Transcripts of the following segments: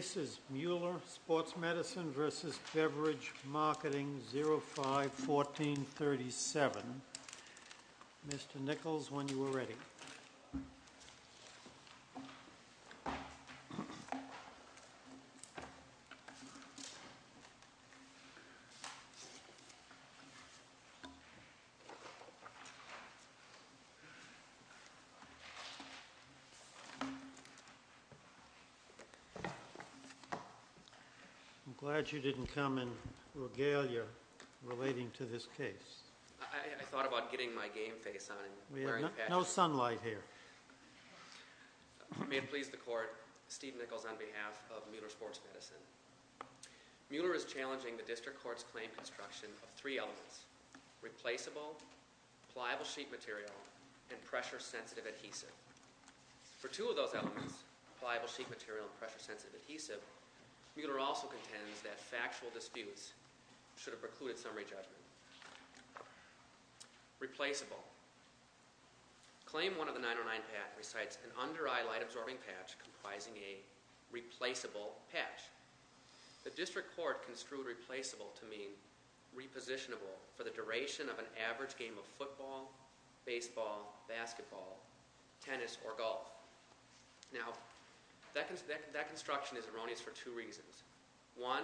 05-1437 Mr. Nichols when you are ready. I'm glad you didn't come in regalia relating to this case. I thought about getting my game face on. We have no sunlight here. May it please the court, Steve Nichols on behalf of Mueller Sports Medicine. Mueller is challenging the district court's claim construction of three elements, replaceable, pliable sheet material, and pressure sensitive adhesive. For two of those elements, pliable sheet material and pressure sensitive adhesive, Mueller also contends that factual disputes should have precluded summary judgment. Replaceable. Claim one of the 909 patent recites an under eye light absorbing patch comprising a replaceable patch. The district court construed replaceable to mean repositionable for the duration of an average game of football, baseball, basketball, tennis, or golf. Now, that construction is erroneous for two reasons. One,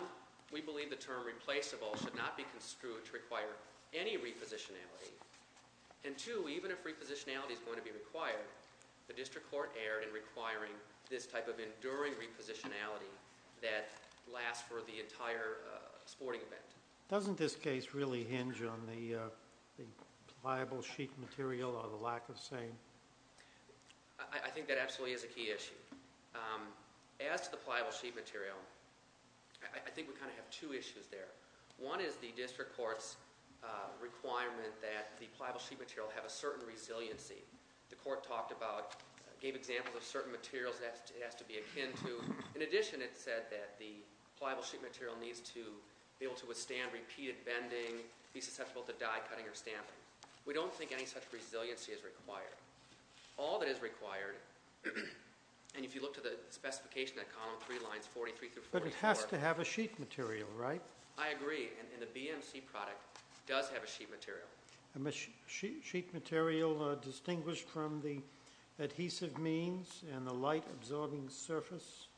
we believe the term replaceable should not be construed to require any repositionality. And two, even if repositionality is going to be required, the district court erred in requiring this type of enduring repositionality that lasts for the entire sporting event. Doesn't this case really hinge on the pliable sheet material or the lack of same? I think that absolutely is a key issue. As to the pliable sheet material, I think we kind of have two issues there. One is the district court's requirement that the pliable sheet material have a certain resiliency. The court talked about, gave examples of certain materials that it has to be akin to. In addition, it said that the pliable sheet material needs to be able to withstand repeated bending, be susceptible to die cutting or stamping. We don't think any such resiliency is required. All that is required, and if you look to the specification at column 3, lines 43 through 44. But it has to have a sheet material, right? I agree, and the BMC product does have a sheet material. A sheet material distinguished from the adhesive means and the light-absorbing surface?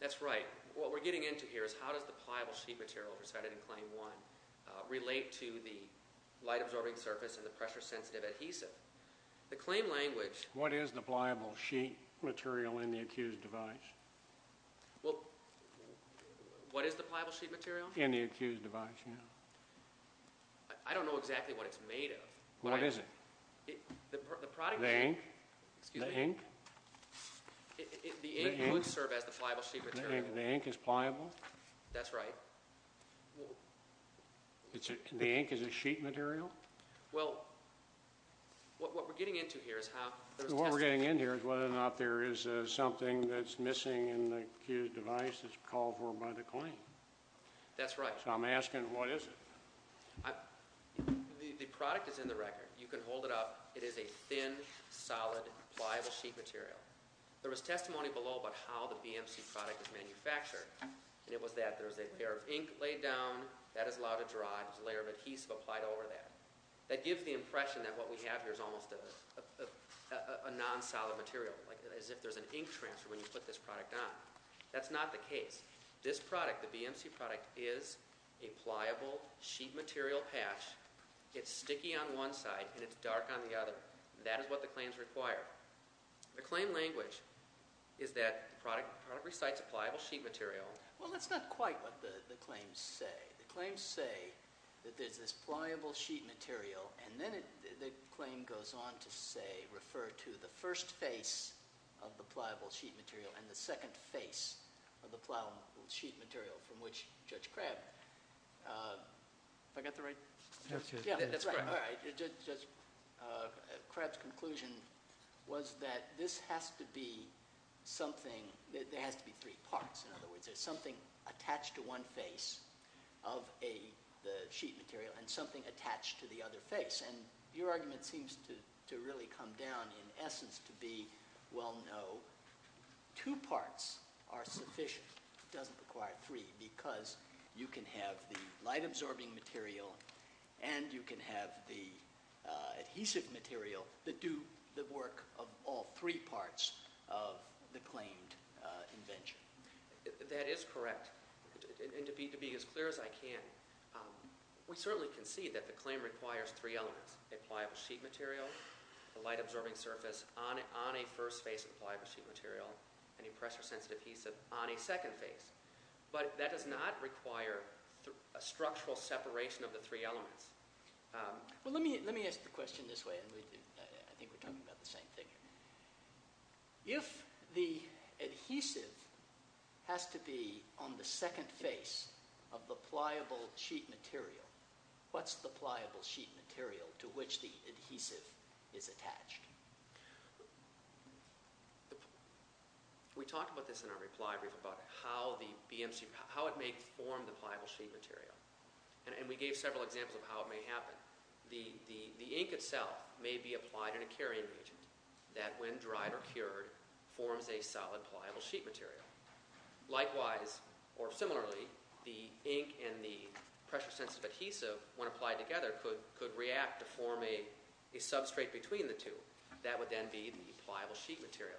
That's right. What we're getting into here is how does the pliable sheet material decided in claim 1 relate to the light-absorbing surface and the pressure-sensitive adhesive? The claim language. What is the pliable sheet material in the accused device? Well, what is the pliable sheet material? In the accused device, yeah. I don't know exactly what it's made of. What is it? The ink? Excuse me? The ink? The ink would serve as the pliable sheet material. The ink is pliable? That's right. The ink is a sheet material? Well, what we're getting into here is how there's testing. What we're getting into here is whether or not there is something that's missing in the accused device that's called for by the claim. That's right. So I'm asking what is it? The product is in the record. You can hold it up. It is a thin, solid, pliable sheet material. There was testimony below about how the BMC product is manufactured, and it was that there was a pair of ink laid down. That is allowed to dry. There's a layer of adhesive applied over that. That gives the impression that what we have here is almost a non-solid material, as if there's an ink transfer when you put this product on. That's not the case. This product, the BMC product, is a pliable sheet material patch. It's sticky on one side, and it's dark on the other. That is what the claims require. The claim language is that the product recites a pliable sheet material. Well, that's not quite what the claims say. The claims say that there's this pliable sheet material, and then the claim goes on to say, refer to the first face of the pliable sheet material and the second face of the pliable sheet material from which Judge Crabb. Have I got the right? That's correct. All right. Judge Crabb's conclusion was that this has to be something. There has to be three parts. In other words, there's something attached to one face of the sheet material and something attached to the other face. And your argument seems to really come down, in essence, to be, well, no. Two parts are sufficient. It doesn't require three because you can have the light-absorbing material and you can have the adhesive material that do the work of all three parts of the claimed invention. That is correct. And to be as clear as I can, we certainly can see that the claim requires three elements, a pliable sheet material, a light-absorbing surface on a first face of the pliable sheet material, and a pressure-sensitive adhesive on a second face. But that does not require a structural separation of the three elements. Well, let me ask the question this way, and I think we're talking about the same thing. If the adhesive has to be on the second face of the pliable sheet material, what's the pliable sheet material to which the adhesive is attached? We talked about this in our reply brief about how it may form the pliable sheet material, and we gave several examples of how it may happen. The ink itself may be applied in a carrying agent that, when dried or cured, forms a solid pliable sheet material. Likewise, or similarly, the ink and the pressure-sensitive adhesive, when applied together, could react to form a substrate between the two. That would then be the pliable sheet material.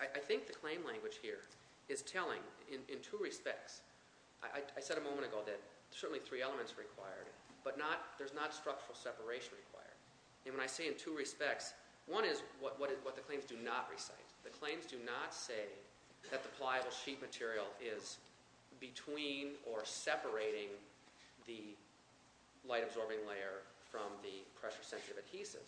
I think the claim language here is telling in two respects. I said a moment ago that certainly three elements are required, but there's not structural separation required. And when I say in two respects, one is what the claims do not recite. The claims do not say that the pliable sheet material is between or separating the light-absorbing layer from the pressure-sensitive adhesive.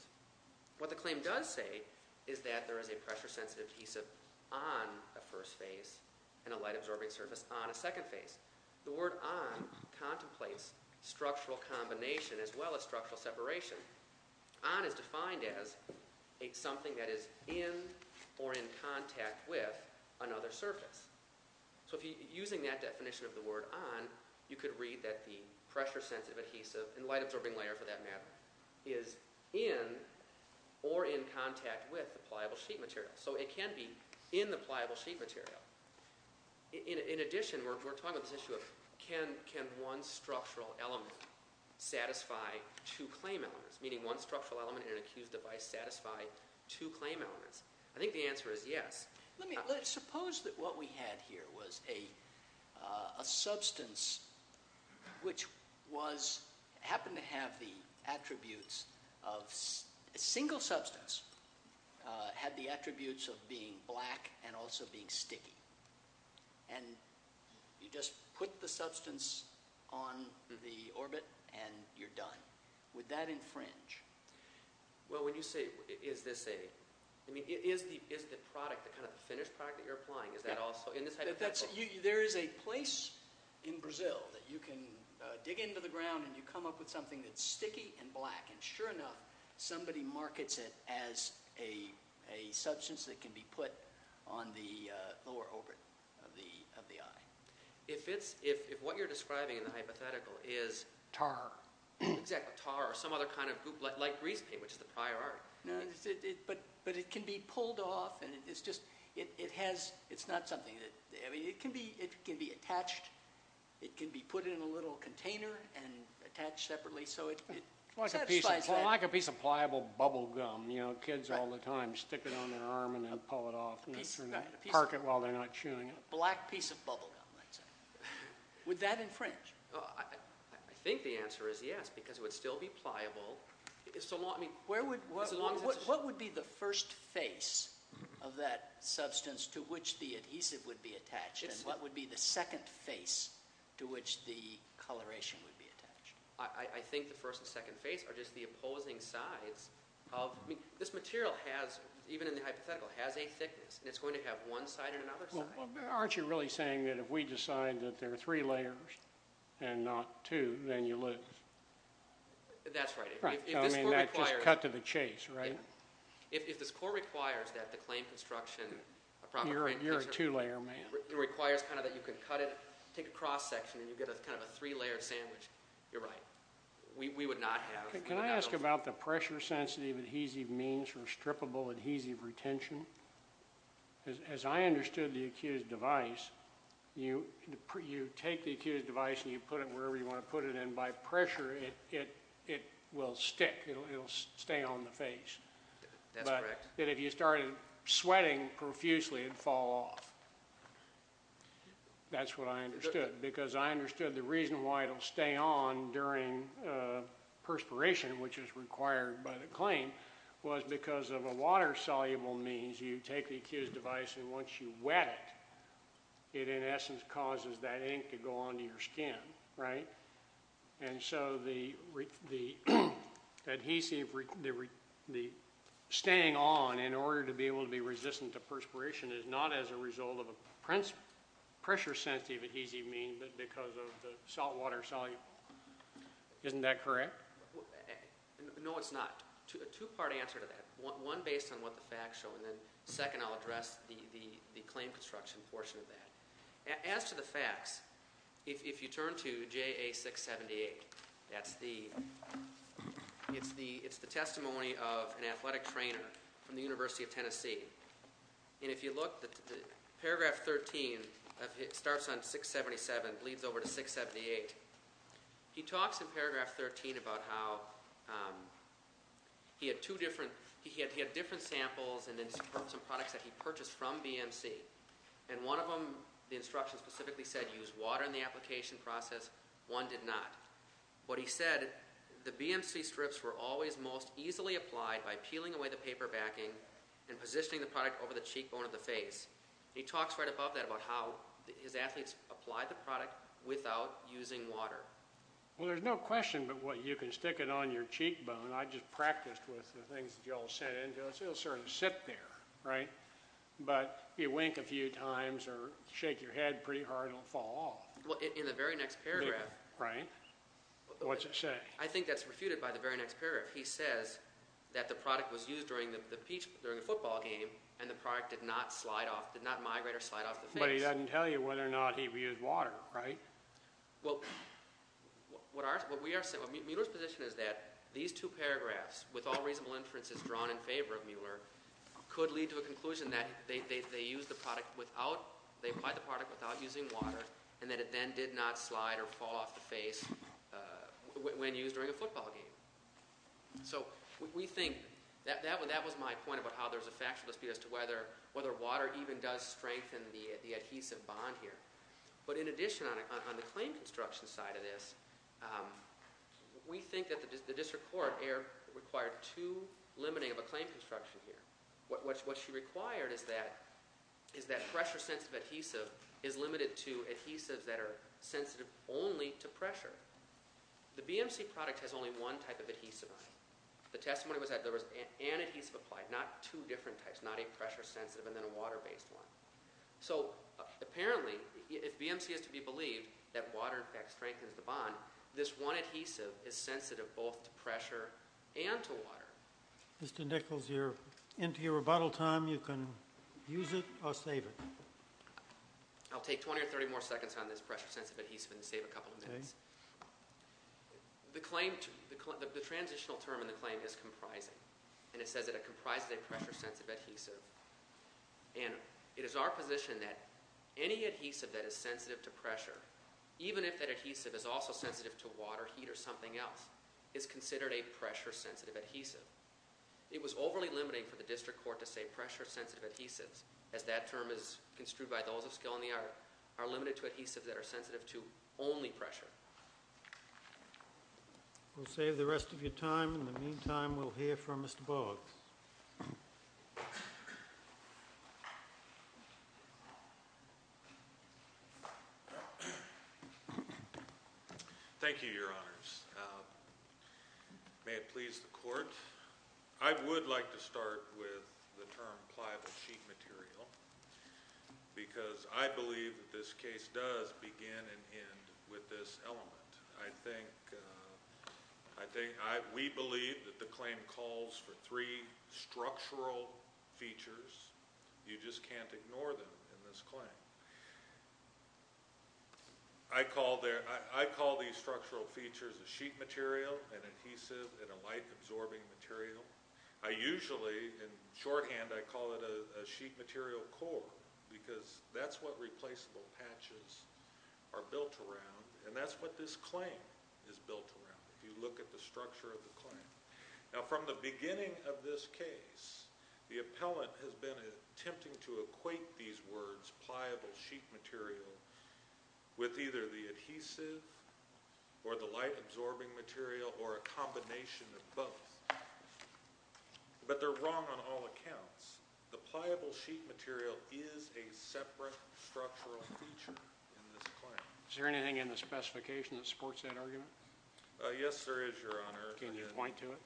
What the claim does say is that there is a pressure-sensitive adhesive on a first face and a light-absorbing surface on a second face. The word on contemplates structural combination as well as structural separation. On is defined as something that is in or in contact with another surface. So using that definition of the word on, you could read that the pressure-sensitive adhesive and light-absorbing layer, for that matter, is in or in contact with the pliable sheet material. So it can be in the pliable sheet material. In addition, we're talking about this issue of can one structural element satisfy two claim elements, meaning one structural element in an accused device satisfy two claim elements? I think the answer is yes. Suppose that what we had here was a substance which happened to have the attributes of – a single substance had the attributes of being black and also being sticky. And you just put the substance on the orbit and you're done. Would that infringe? Well, when you say is this a – I mean is the product, the kind of finished product that you're applying, is that also in this hypothetical? There is a place in Brazil that you can dig into the ground and you come up with something that's sticky and black. And sure enough, somebody markets it as a substance that can be put on the lower orbit of the eye. If what you're describing in the hypothetical is… Tar. Exactly, tar or some other kind of – like grease paint, which is the prior art. But it can be pulled off and it's just – it has – it's not something that – I mean it can be attached. It can be put in a little container and attached separately so it satisfies that. Like a piece of pliable bubble gum. Kids all the time stick it on their arm and then pull it off and park it while they're not chewing it. Black piece of bubble gum, I'd say. Would that infringe? I think the answer is yes because it would still be pliable. What would be the first face of that substance to which the adhesive would be attached and what would be the second face to which the coloration would be attached? I think the first and second face are just the opposing sides of – I mean this material has, even in the hypothetical, has a thickness. And it's going to have one side and another side. Aren't you really saying that if we decide that there are three layers and not two, then you lose? That's right. I mean that's just cut to the chase, right? If the score requires that the claim construction – You're a two-layer man. It requires kind of that you can cut it, take a cross-section, and you get kind of a three-layer sandwich, you're right. We would not have – Can I ask about the pressure-sensitive adhesive means for strippable adhesive retention? As I understood the accused device, you take the accused device and you put it wherever you want to put it and by pressure it will stick. It will stay on the face. That's correct. But if you started sweating profusely, it would fall off. That's what I understood because I understood the reason why it will stay on during perspiration, which is required by the claim, was because of a water-soluble means. You take the accused device and once you wet it, it in essence causes that ink to go onto your skin, right? And so the adhesive – the staying on in order to be able to be resistant to perspiration is not as a result of a pressure-sensitive adhesive mean but because of the saltwater soluble. Isn't that correct? No, it's not. A two-part answer to that, one based on what the facts show and then second I'll address the claim construction portion of that. As to the facts, if you turn to JA 678, that's the – it's the testimony of an athletic trainer from the University of Tennessee. And if you look, paragraph 13 starts on 677, leads over to 678. He talks in paragraph 13 about how he had two different – he had different samples and then some products that he purchased from BMC. And one of them, the instructions specifically said use water in the application process. One did not. What he said, the BMC strips were always most easily applied by peeling away the paper backing and positioning the product over the cheekbone of the face. He talks right above that about how his athletes applied the product without using water. Well, there's no question but what you can stick it on your cheekbone. I just practiced with the things that you all sent in to us. It'll sort of sit there, right? But you wink a few times or shake your head pretty hard and it'll fall off. Well, in the very next paragraph – Right. What's it say? I think that's refuted by the very next paragraph. He says that the product was used during a football game and the product did not migrate or slide off the face. But he doesn't tell you whether or not he used water, right? Well, what Mueller's position is that these two paragraphs, with all reasonable inferences drawn in favor of Mueller, could lead to a conclusion that they applied the product without using water and that it then did not slide or fall off the face when used during a football game. So we think – that was my point about how there's a factual dispute as to whether water even does strengthen the adhesive bond here. But in addition, on the claim construction side of this, we think that the district court required too limiting of a claim construction here. What she required is that pressure-sensitive adhesive is limited to adhesives that are sensitive only to pressure. The BMC product has only one type of adhesive on it. The testimony was that there was an adhesive applied, not two different types, not a pressure-sensitive and then a water-based one. So apparently, if BMC is to be believed that water, in fact, strengthens the bond, this one adhesive is sensitive both to pressure and to water. Mr. Nichols, you're into your rebuttal time. You can use it or save it. I'll take 20 or 30 more seconds on this pressure-sensitive adhesive and save a couple of minutes. The transitional term in the claim is comprising, and it says that it comprises a pressure-sensitive adhesive. And it is our position that any adhesive that is sensitive to pressure, even if that adhesive is also sensitive to water, heat, or something else, is considered a pressure-sensitive adhesive. It was overly limiting for the district court to say pressure-sensitive adhesives, as that term is construed by those of skill in the art, are limited to adhesives that are sensitive to only pressure. We'll save the rest of your time. In the meantime, we'll hear from Mr. Boggs. Mr. Boggs. Thank you, Your Honors. May it please the Court. I would like to start with the term pliable sheet material because I believe that this case does begin and end with this element. We believe that the claim calls for three structural features. You just can't ignore them in this claim. I call these structural features a sheet material, an adhesive, and a light-absorbing material. I usually, in shorthand, I call it a sheet material core because that's what replaceable patches are built around, and that's what this claim is built around, if you look at the structure of the claim. Now, from the beginning of this case, the appellant has been attempting to equate these words, pliable sheet material, with either the adhesive or the light-absorbing material or a combination of both. But they're wrong on all accounts. The pliable sheet material is a separate structural feature in this claim. Is there anything in the specification that supports that argument? Yes, there is, Your Honor. Can you point to it?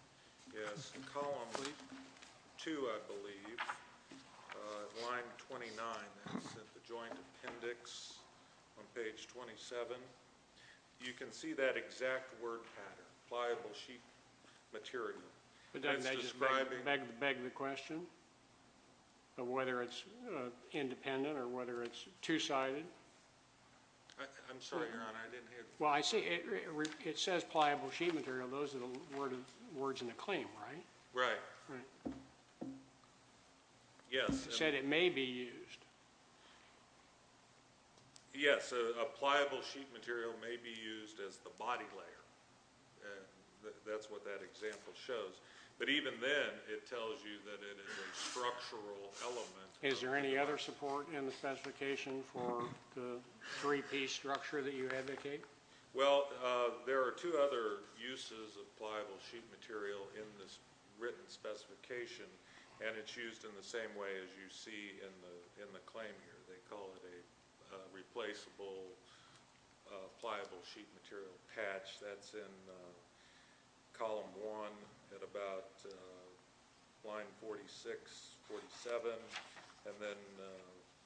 Yes. Column 2, I believe, line 29, that's at the joint appendix on page 27. You can see that exact word pattern, pliable sheet material. But doesn't that just beg the question of whether it's independent or whether it's two-sided? I'm sorry, Your Honor, I didn't hear. Well, I see it says pliable sheet material. Those are the words in the claim, right? Right. It said it may be used. Yes, a pliable sheet material may be used as the body layer. That's what that example shows. But even then, it tells you that it is a structural element. Is there any other support in the specification for the three-piece structure that you advocate? Well, there are two other uses of pliable sheet material in this written specification, and it's used in the same way as you see in the claim here. They call it a replaceable pliable sheet material patch. That's in Column 1 at about line 46, 47, and then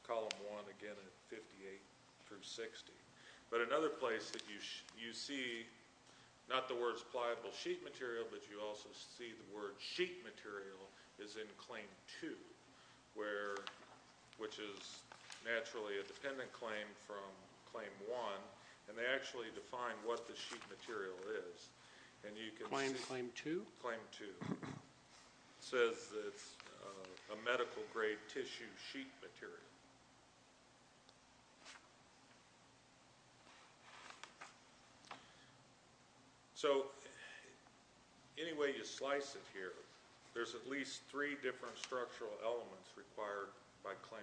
Column 1 again at 58 through 60. But another place that you see not the words pliable sheet material but you also see the word sheet material is in Claim 2, which is naturally a dependent claim from Claim 1, and they actually define what the sheet material is. Claim 2? Claim 2. It says it's a medical-grade tissue sheet material. So any way you slice it here, there's at least three different structural elements required by Claim 1,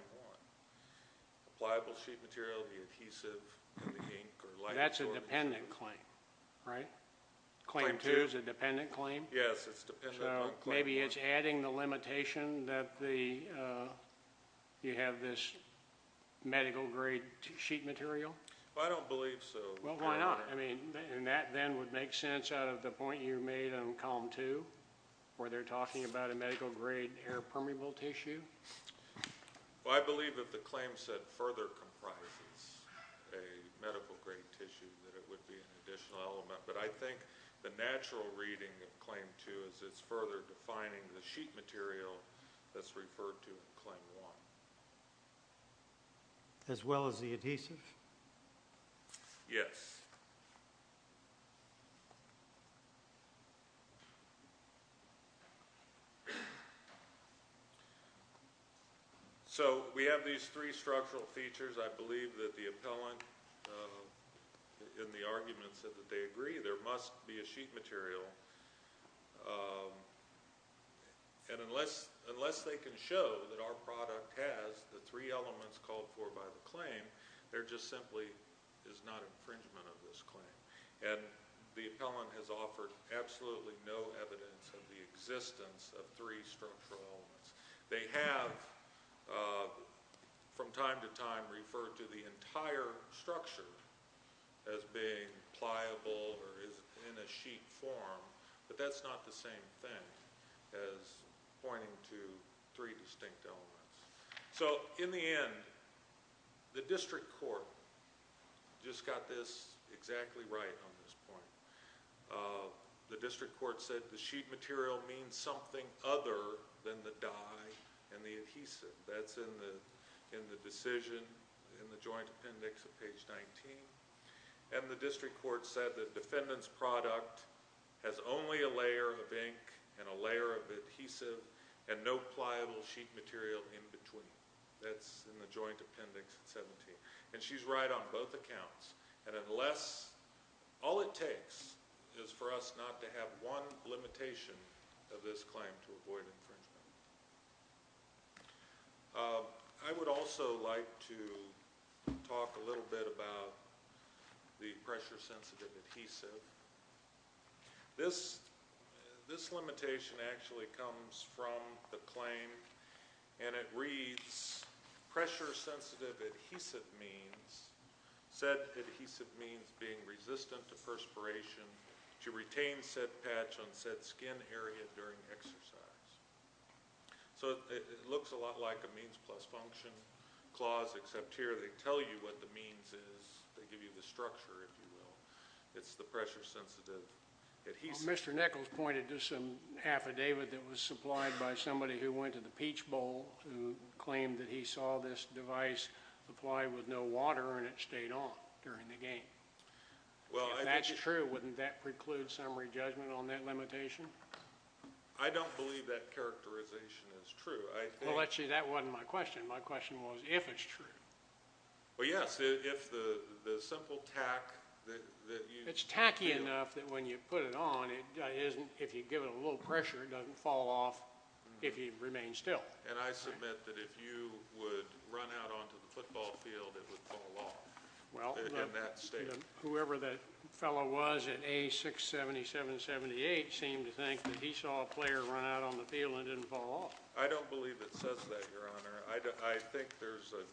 the pliable sheet material, the adhesive, and the ink. That's a dependent claim, right? Claim 2 is a dependent claim? Yes, it's a dependent claim. So maybe it's adding the limitation that you have this medical-grade sheet material? I don't believe so. Well, why not? I mean, and that then would make sense out of the point you made on Column 2 where they're talking about a medical-grade air permeable tissue? Well, I believe if the claim said further comprises a medical-grade tissue that it would be an additional element, but I think the natural reading of Claim 2 is it's further defining the sheet material that's referred to in Claim 1. As well as the adhesive? Yes. So we have these three structural features. I believe that the appellant in the argument said that they agree there must be a sheet material, and unless they can show that our product has the three elements called for by the claim, there just simply is not infringement of this claim. And the appellant has offered absolutely no evidence of the existence of three structural elements. They have from time to time referred to the entire structure as being pliable or in a sheet form, but that's not the same thing as pointing to three distinct elements. So in the end, the district court just got this exactly right on this point. The district court said the sheet material means something other than the dye and the adhesive. That's in the decision in the Joint Appendix at page 19. And the district court said the defendant's product has only a layer of ink and a layer of adhesive and no pliable sheet material in between. That's in the Joint Appendix at 17. And she's right on both accounts. And all it takes is for us not to have one limitation of this claim to avoid infringement. I would also like to talk a little bit about the pressure-sensitive adhesive. This limitation actually comes from the claim, and it reads, pressure-sensitive adhesive means said adhesive means being resistant to perspiration to retain said patch on said skin area during exercise. So it looks a lot like a means plus function clause, except here they tell you what the means is. They give you the structure, if you will. It's the pressure-sensitive adhesive. Well, Mr. Nichols pointed to some affidavit that was supplied by somebody who went to the Peach Bowl who claimed that he saw this device applied with no water and it stayed on during the game. If that's true, wouldn't that preclude summary judgment on that limitation? I don't believe that characterization is true. Well, actually, that wasn't my question. My question was if it's true. Well, yes, if the simple tack that you feel. It's tacky enough that when you put it on, if you give it a little pressure, it doesn't fall off if you remain still. And I submit that if you would run out onto the football field, it would fall off in that state. Well, whoever that fellow was at A67778 seemed to think that he saw a player run out on the field and didn't fall off. I don't believe it says that, Your Honor. I think there's a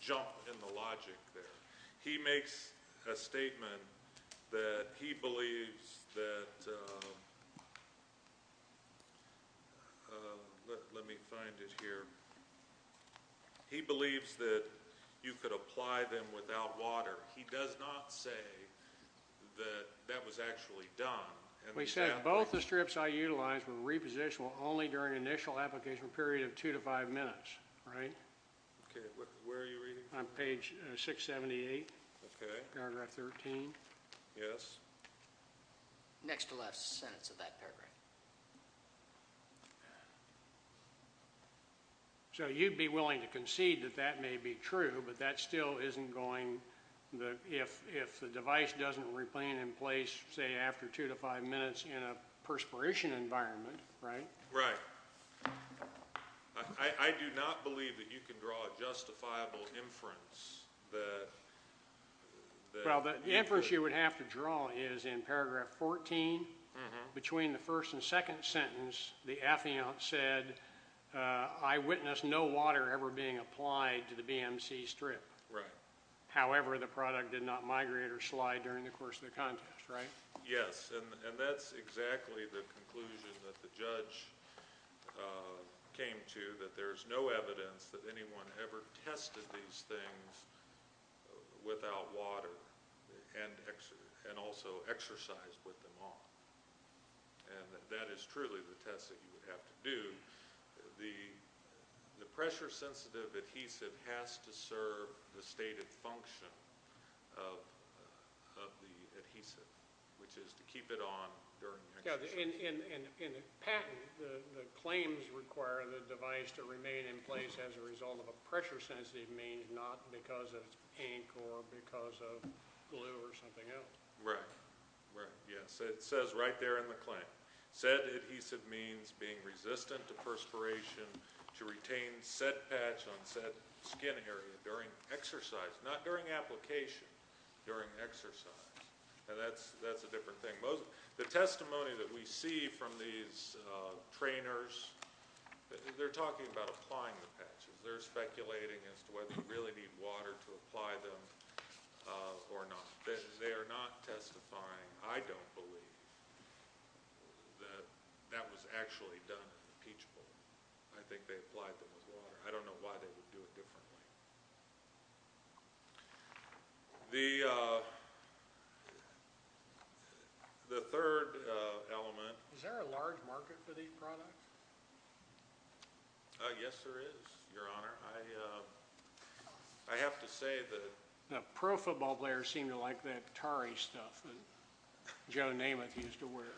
jump in the logic there. He makes a statement that he believes that you could apply them without water. He does not say that that was actually done. We said both the strips I utilized were repositional only during initial application period of two to five minutes, right? Okay. Where are you reading? On page 678. Okay. Paragraph 13. Yes. Next to last sentence of that paragraph. So you'd be willing to concede that that may be true, but that still isn't going. If the device doesn't remain in place, say, after two to five minutes in a perspiration environment, right? Right. I do not believe that you can draw a justifiable inference. Well, the inference you would have to draw is in paragraph 14. Between the first and second sentence, the affiant said, I witnessed no water ever being applied to the BMC strip. Right. However, the product did not migrate or slide during the course of the contest, right? Yes, and that's exactly the conclusion that the judge came to, that there's no evidence that anyone ever tested these things without water and also exercised with them on. And that is truly the test that you would have to do. The pressure-sensitive adhesive has to serve the stated function of the adhesive, which is to keep it on during the exercise. And the patent, the claims requiring the device to remain in place as a result of a pressure-sensitive means not because of ink or because of glue or something else. Right. Yes, it says right there in the claim, said adhesive means being resistant to perspiration to retain said patch on said skin area during exercise, not during application, during exercise. And that's a different thing. The testimony that we see from these trainers, they're talking about applying the patches. They're speculating as to whether you really need water to apply them or not. They are not testifying. I don't believe that that was actually done in the Peach Bowl. I think they applied them with water. I don't know why they would do it differently. The third element. Is there a large market for these products? Yes, there is, Your Honor. I have to say that the pro football players seem to like that tarry stuff that Joe Namath used to wear.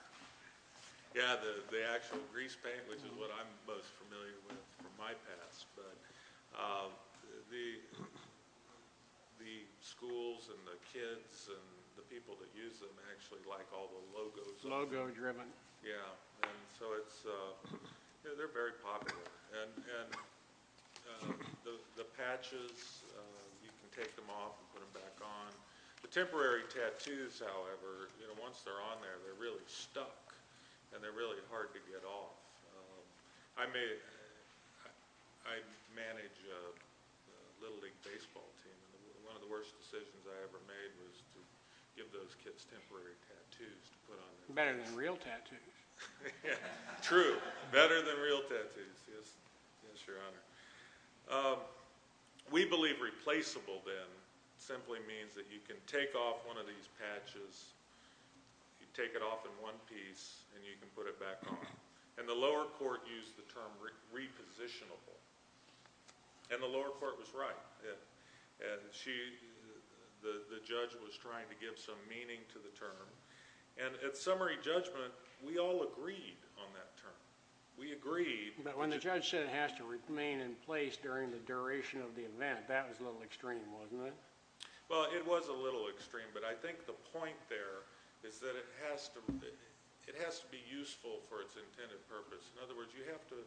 Yes, the actual grease paint, which is what I'm most familiar with from my past. But the schools and the kids and the people that use them actually like all the logos. Logo driven. Yes. And so they're very popular. And the patches, you can take them off and put them back on. The temporary tattoos, however, once they're on there, they're really stuck. And they're really hard to get off. I manage a little league baseball team, and one of the worst decisions I ever made was to give those kids temporary tattoos to put on their faces. Better than real tattoos. True. Better than real tattoos. Yes, Your Honor. We believe replaceable then simply means that you can take off one of these patches, you take it off in one piece, and you can put it back on. And the lower court used the term repositionable. And the lower court was right. The judge was trying to give some meaning to the term. And at summary judgment, we all agreed on that term. We agreed. But when the judge said it has to remain in place during the duration of the event, that was a little extreme, wasn't it? Well, it was a little extreme. But I think the point there is that it has to be useful for its intended purpose. In other words, you have to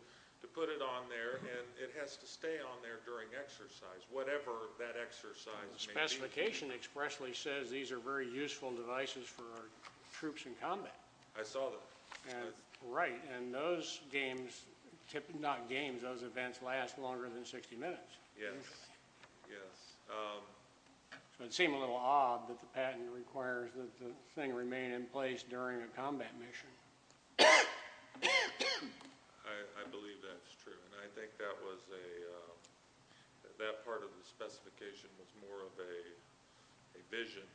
put it on there, and it has to stay on there during exercise, whatever that exercise may be. The specification expressly says these are very useful devices for our troops in combat. I saw that. Right. And those games, not games, those events last longer than 60 minutes. Yes. Yes. So it seemed a little odd that the patent requires that the thing remain in place during a combat mission. I believe that's true. And I think that was a – that part of the specification was more of a vision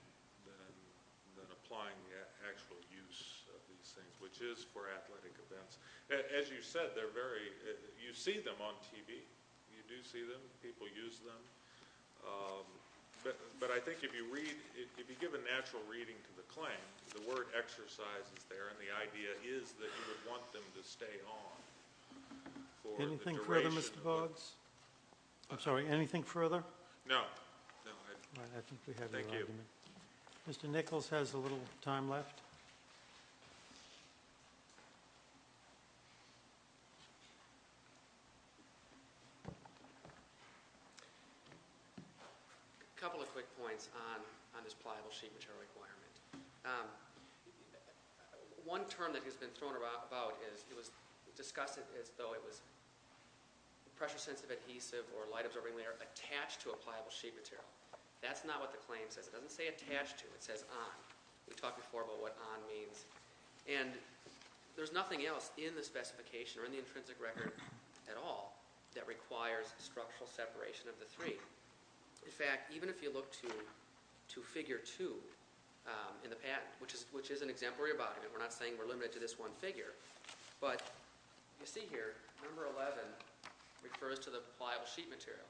than applying the actual use of these things, which is for athletic events. As you said, they're very – you see them on TV. You do see them. People use them. But I think if you read – if you give a natural reading to the claim, the word exercise is there, and the idea is that you would want them to stay on for the duration. Anything further, Mr. Boggs? I'm sorry. Anything further? No. No. I think we have your argument. Thank you. Mr. Nichols has a little time left. A couple of quick points on this pliable sheet material requirement. One term that has been thrown about is it was discussed as though it was pressure-sensitive adhesive or light-absorbing layer attached to a pliable sheet material. That's not what the claim says. It doesn't say attached to. It says on. We talked before about what on means. And there's nothing else in the specification or in the intrinsic record at all that requires structural separation of the three. In fact, even if you look to figure two in the patent, which is an exemplary argument. We're not saying we're limited to this one figure. But you see here, number 11 refers to the pliable sheet material.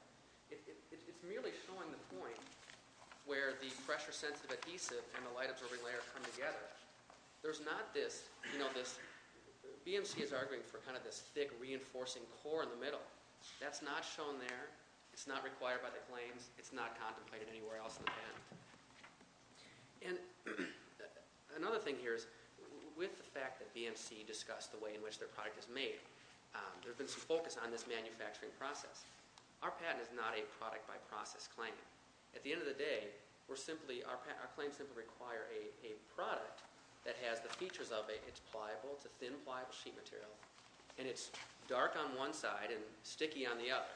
It's merely showing the point where the pressure-sensitive adhesive and the light-absorbing layer come together. There's not this. BMC is arguing for kind of this thick reinforcing core in the middle. That's not shown there. It's not required by the claims. It's not contemplated anywhere else in the patent. And another thing here is with the fact that BMC discussed the way in which their product is made, there's been some focus on this manufacturing process. Our patent is not a product-by-process claim. At the end of the day, our claims simply require a product that has the features of it. It's pliable. It's a thin, pliable sheet material. And it's dark on one side and sticky on the other.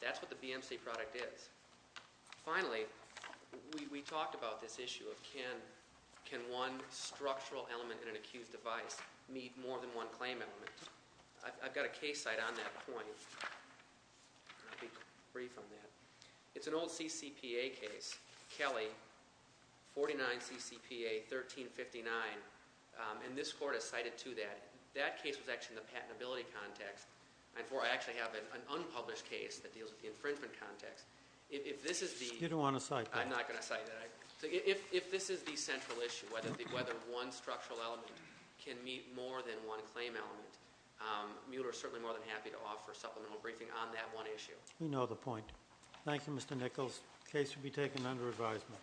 That's what the BMC product is. Finally, we talked about this issue of can one structural element in an accused device meet more than one claim element. I've got a case site on that point. I'll be brief on that. It's an old CCPA case, Kelly, 49 CCPA, 1359. And this court has cited two of that. That case was actually in the patentability context. I actually have an unpublished case that deals with the infringement context. You don't want to cite that? I'm not going to cite that. If this is the central issue, whether one structural element can meet more than one claim element, Mueller is certainly more than happy to offer a supplemental briefing on that one issue. We know the point. Thank you, Mr. Nichols. The case will be taken under advisement.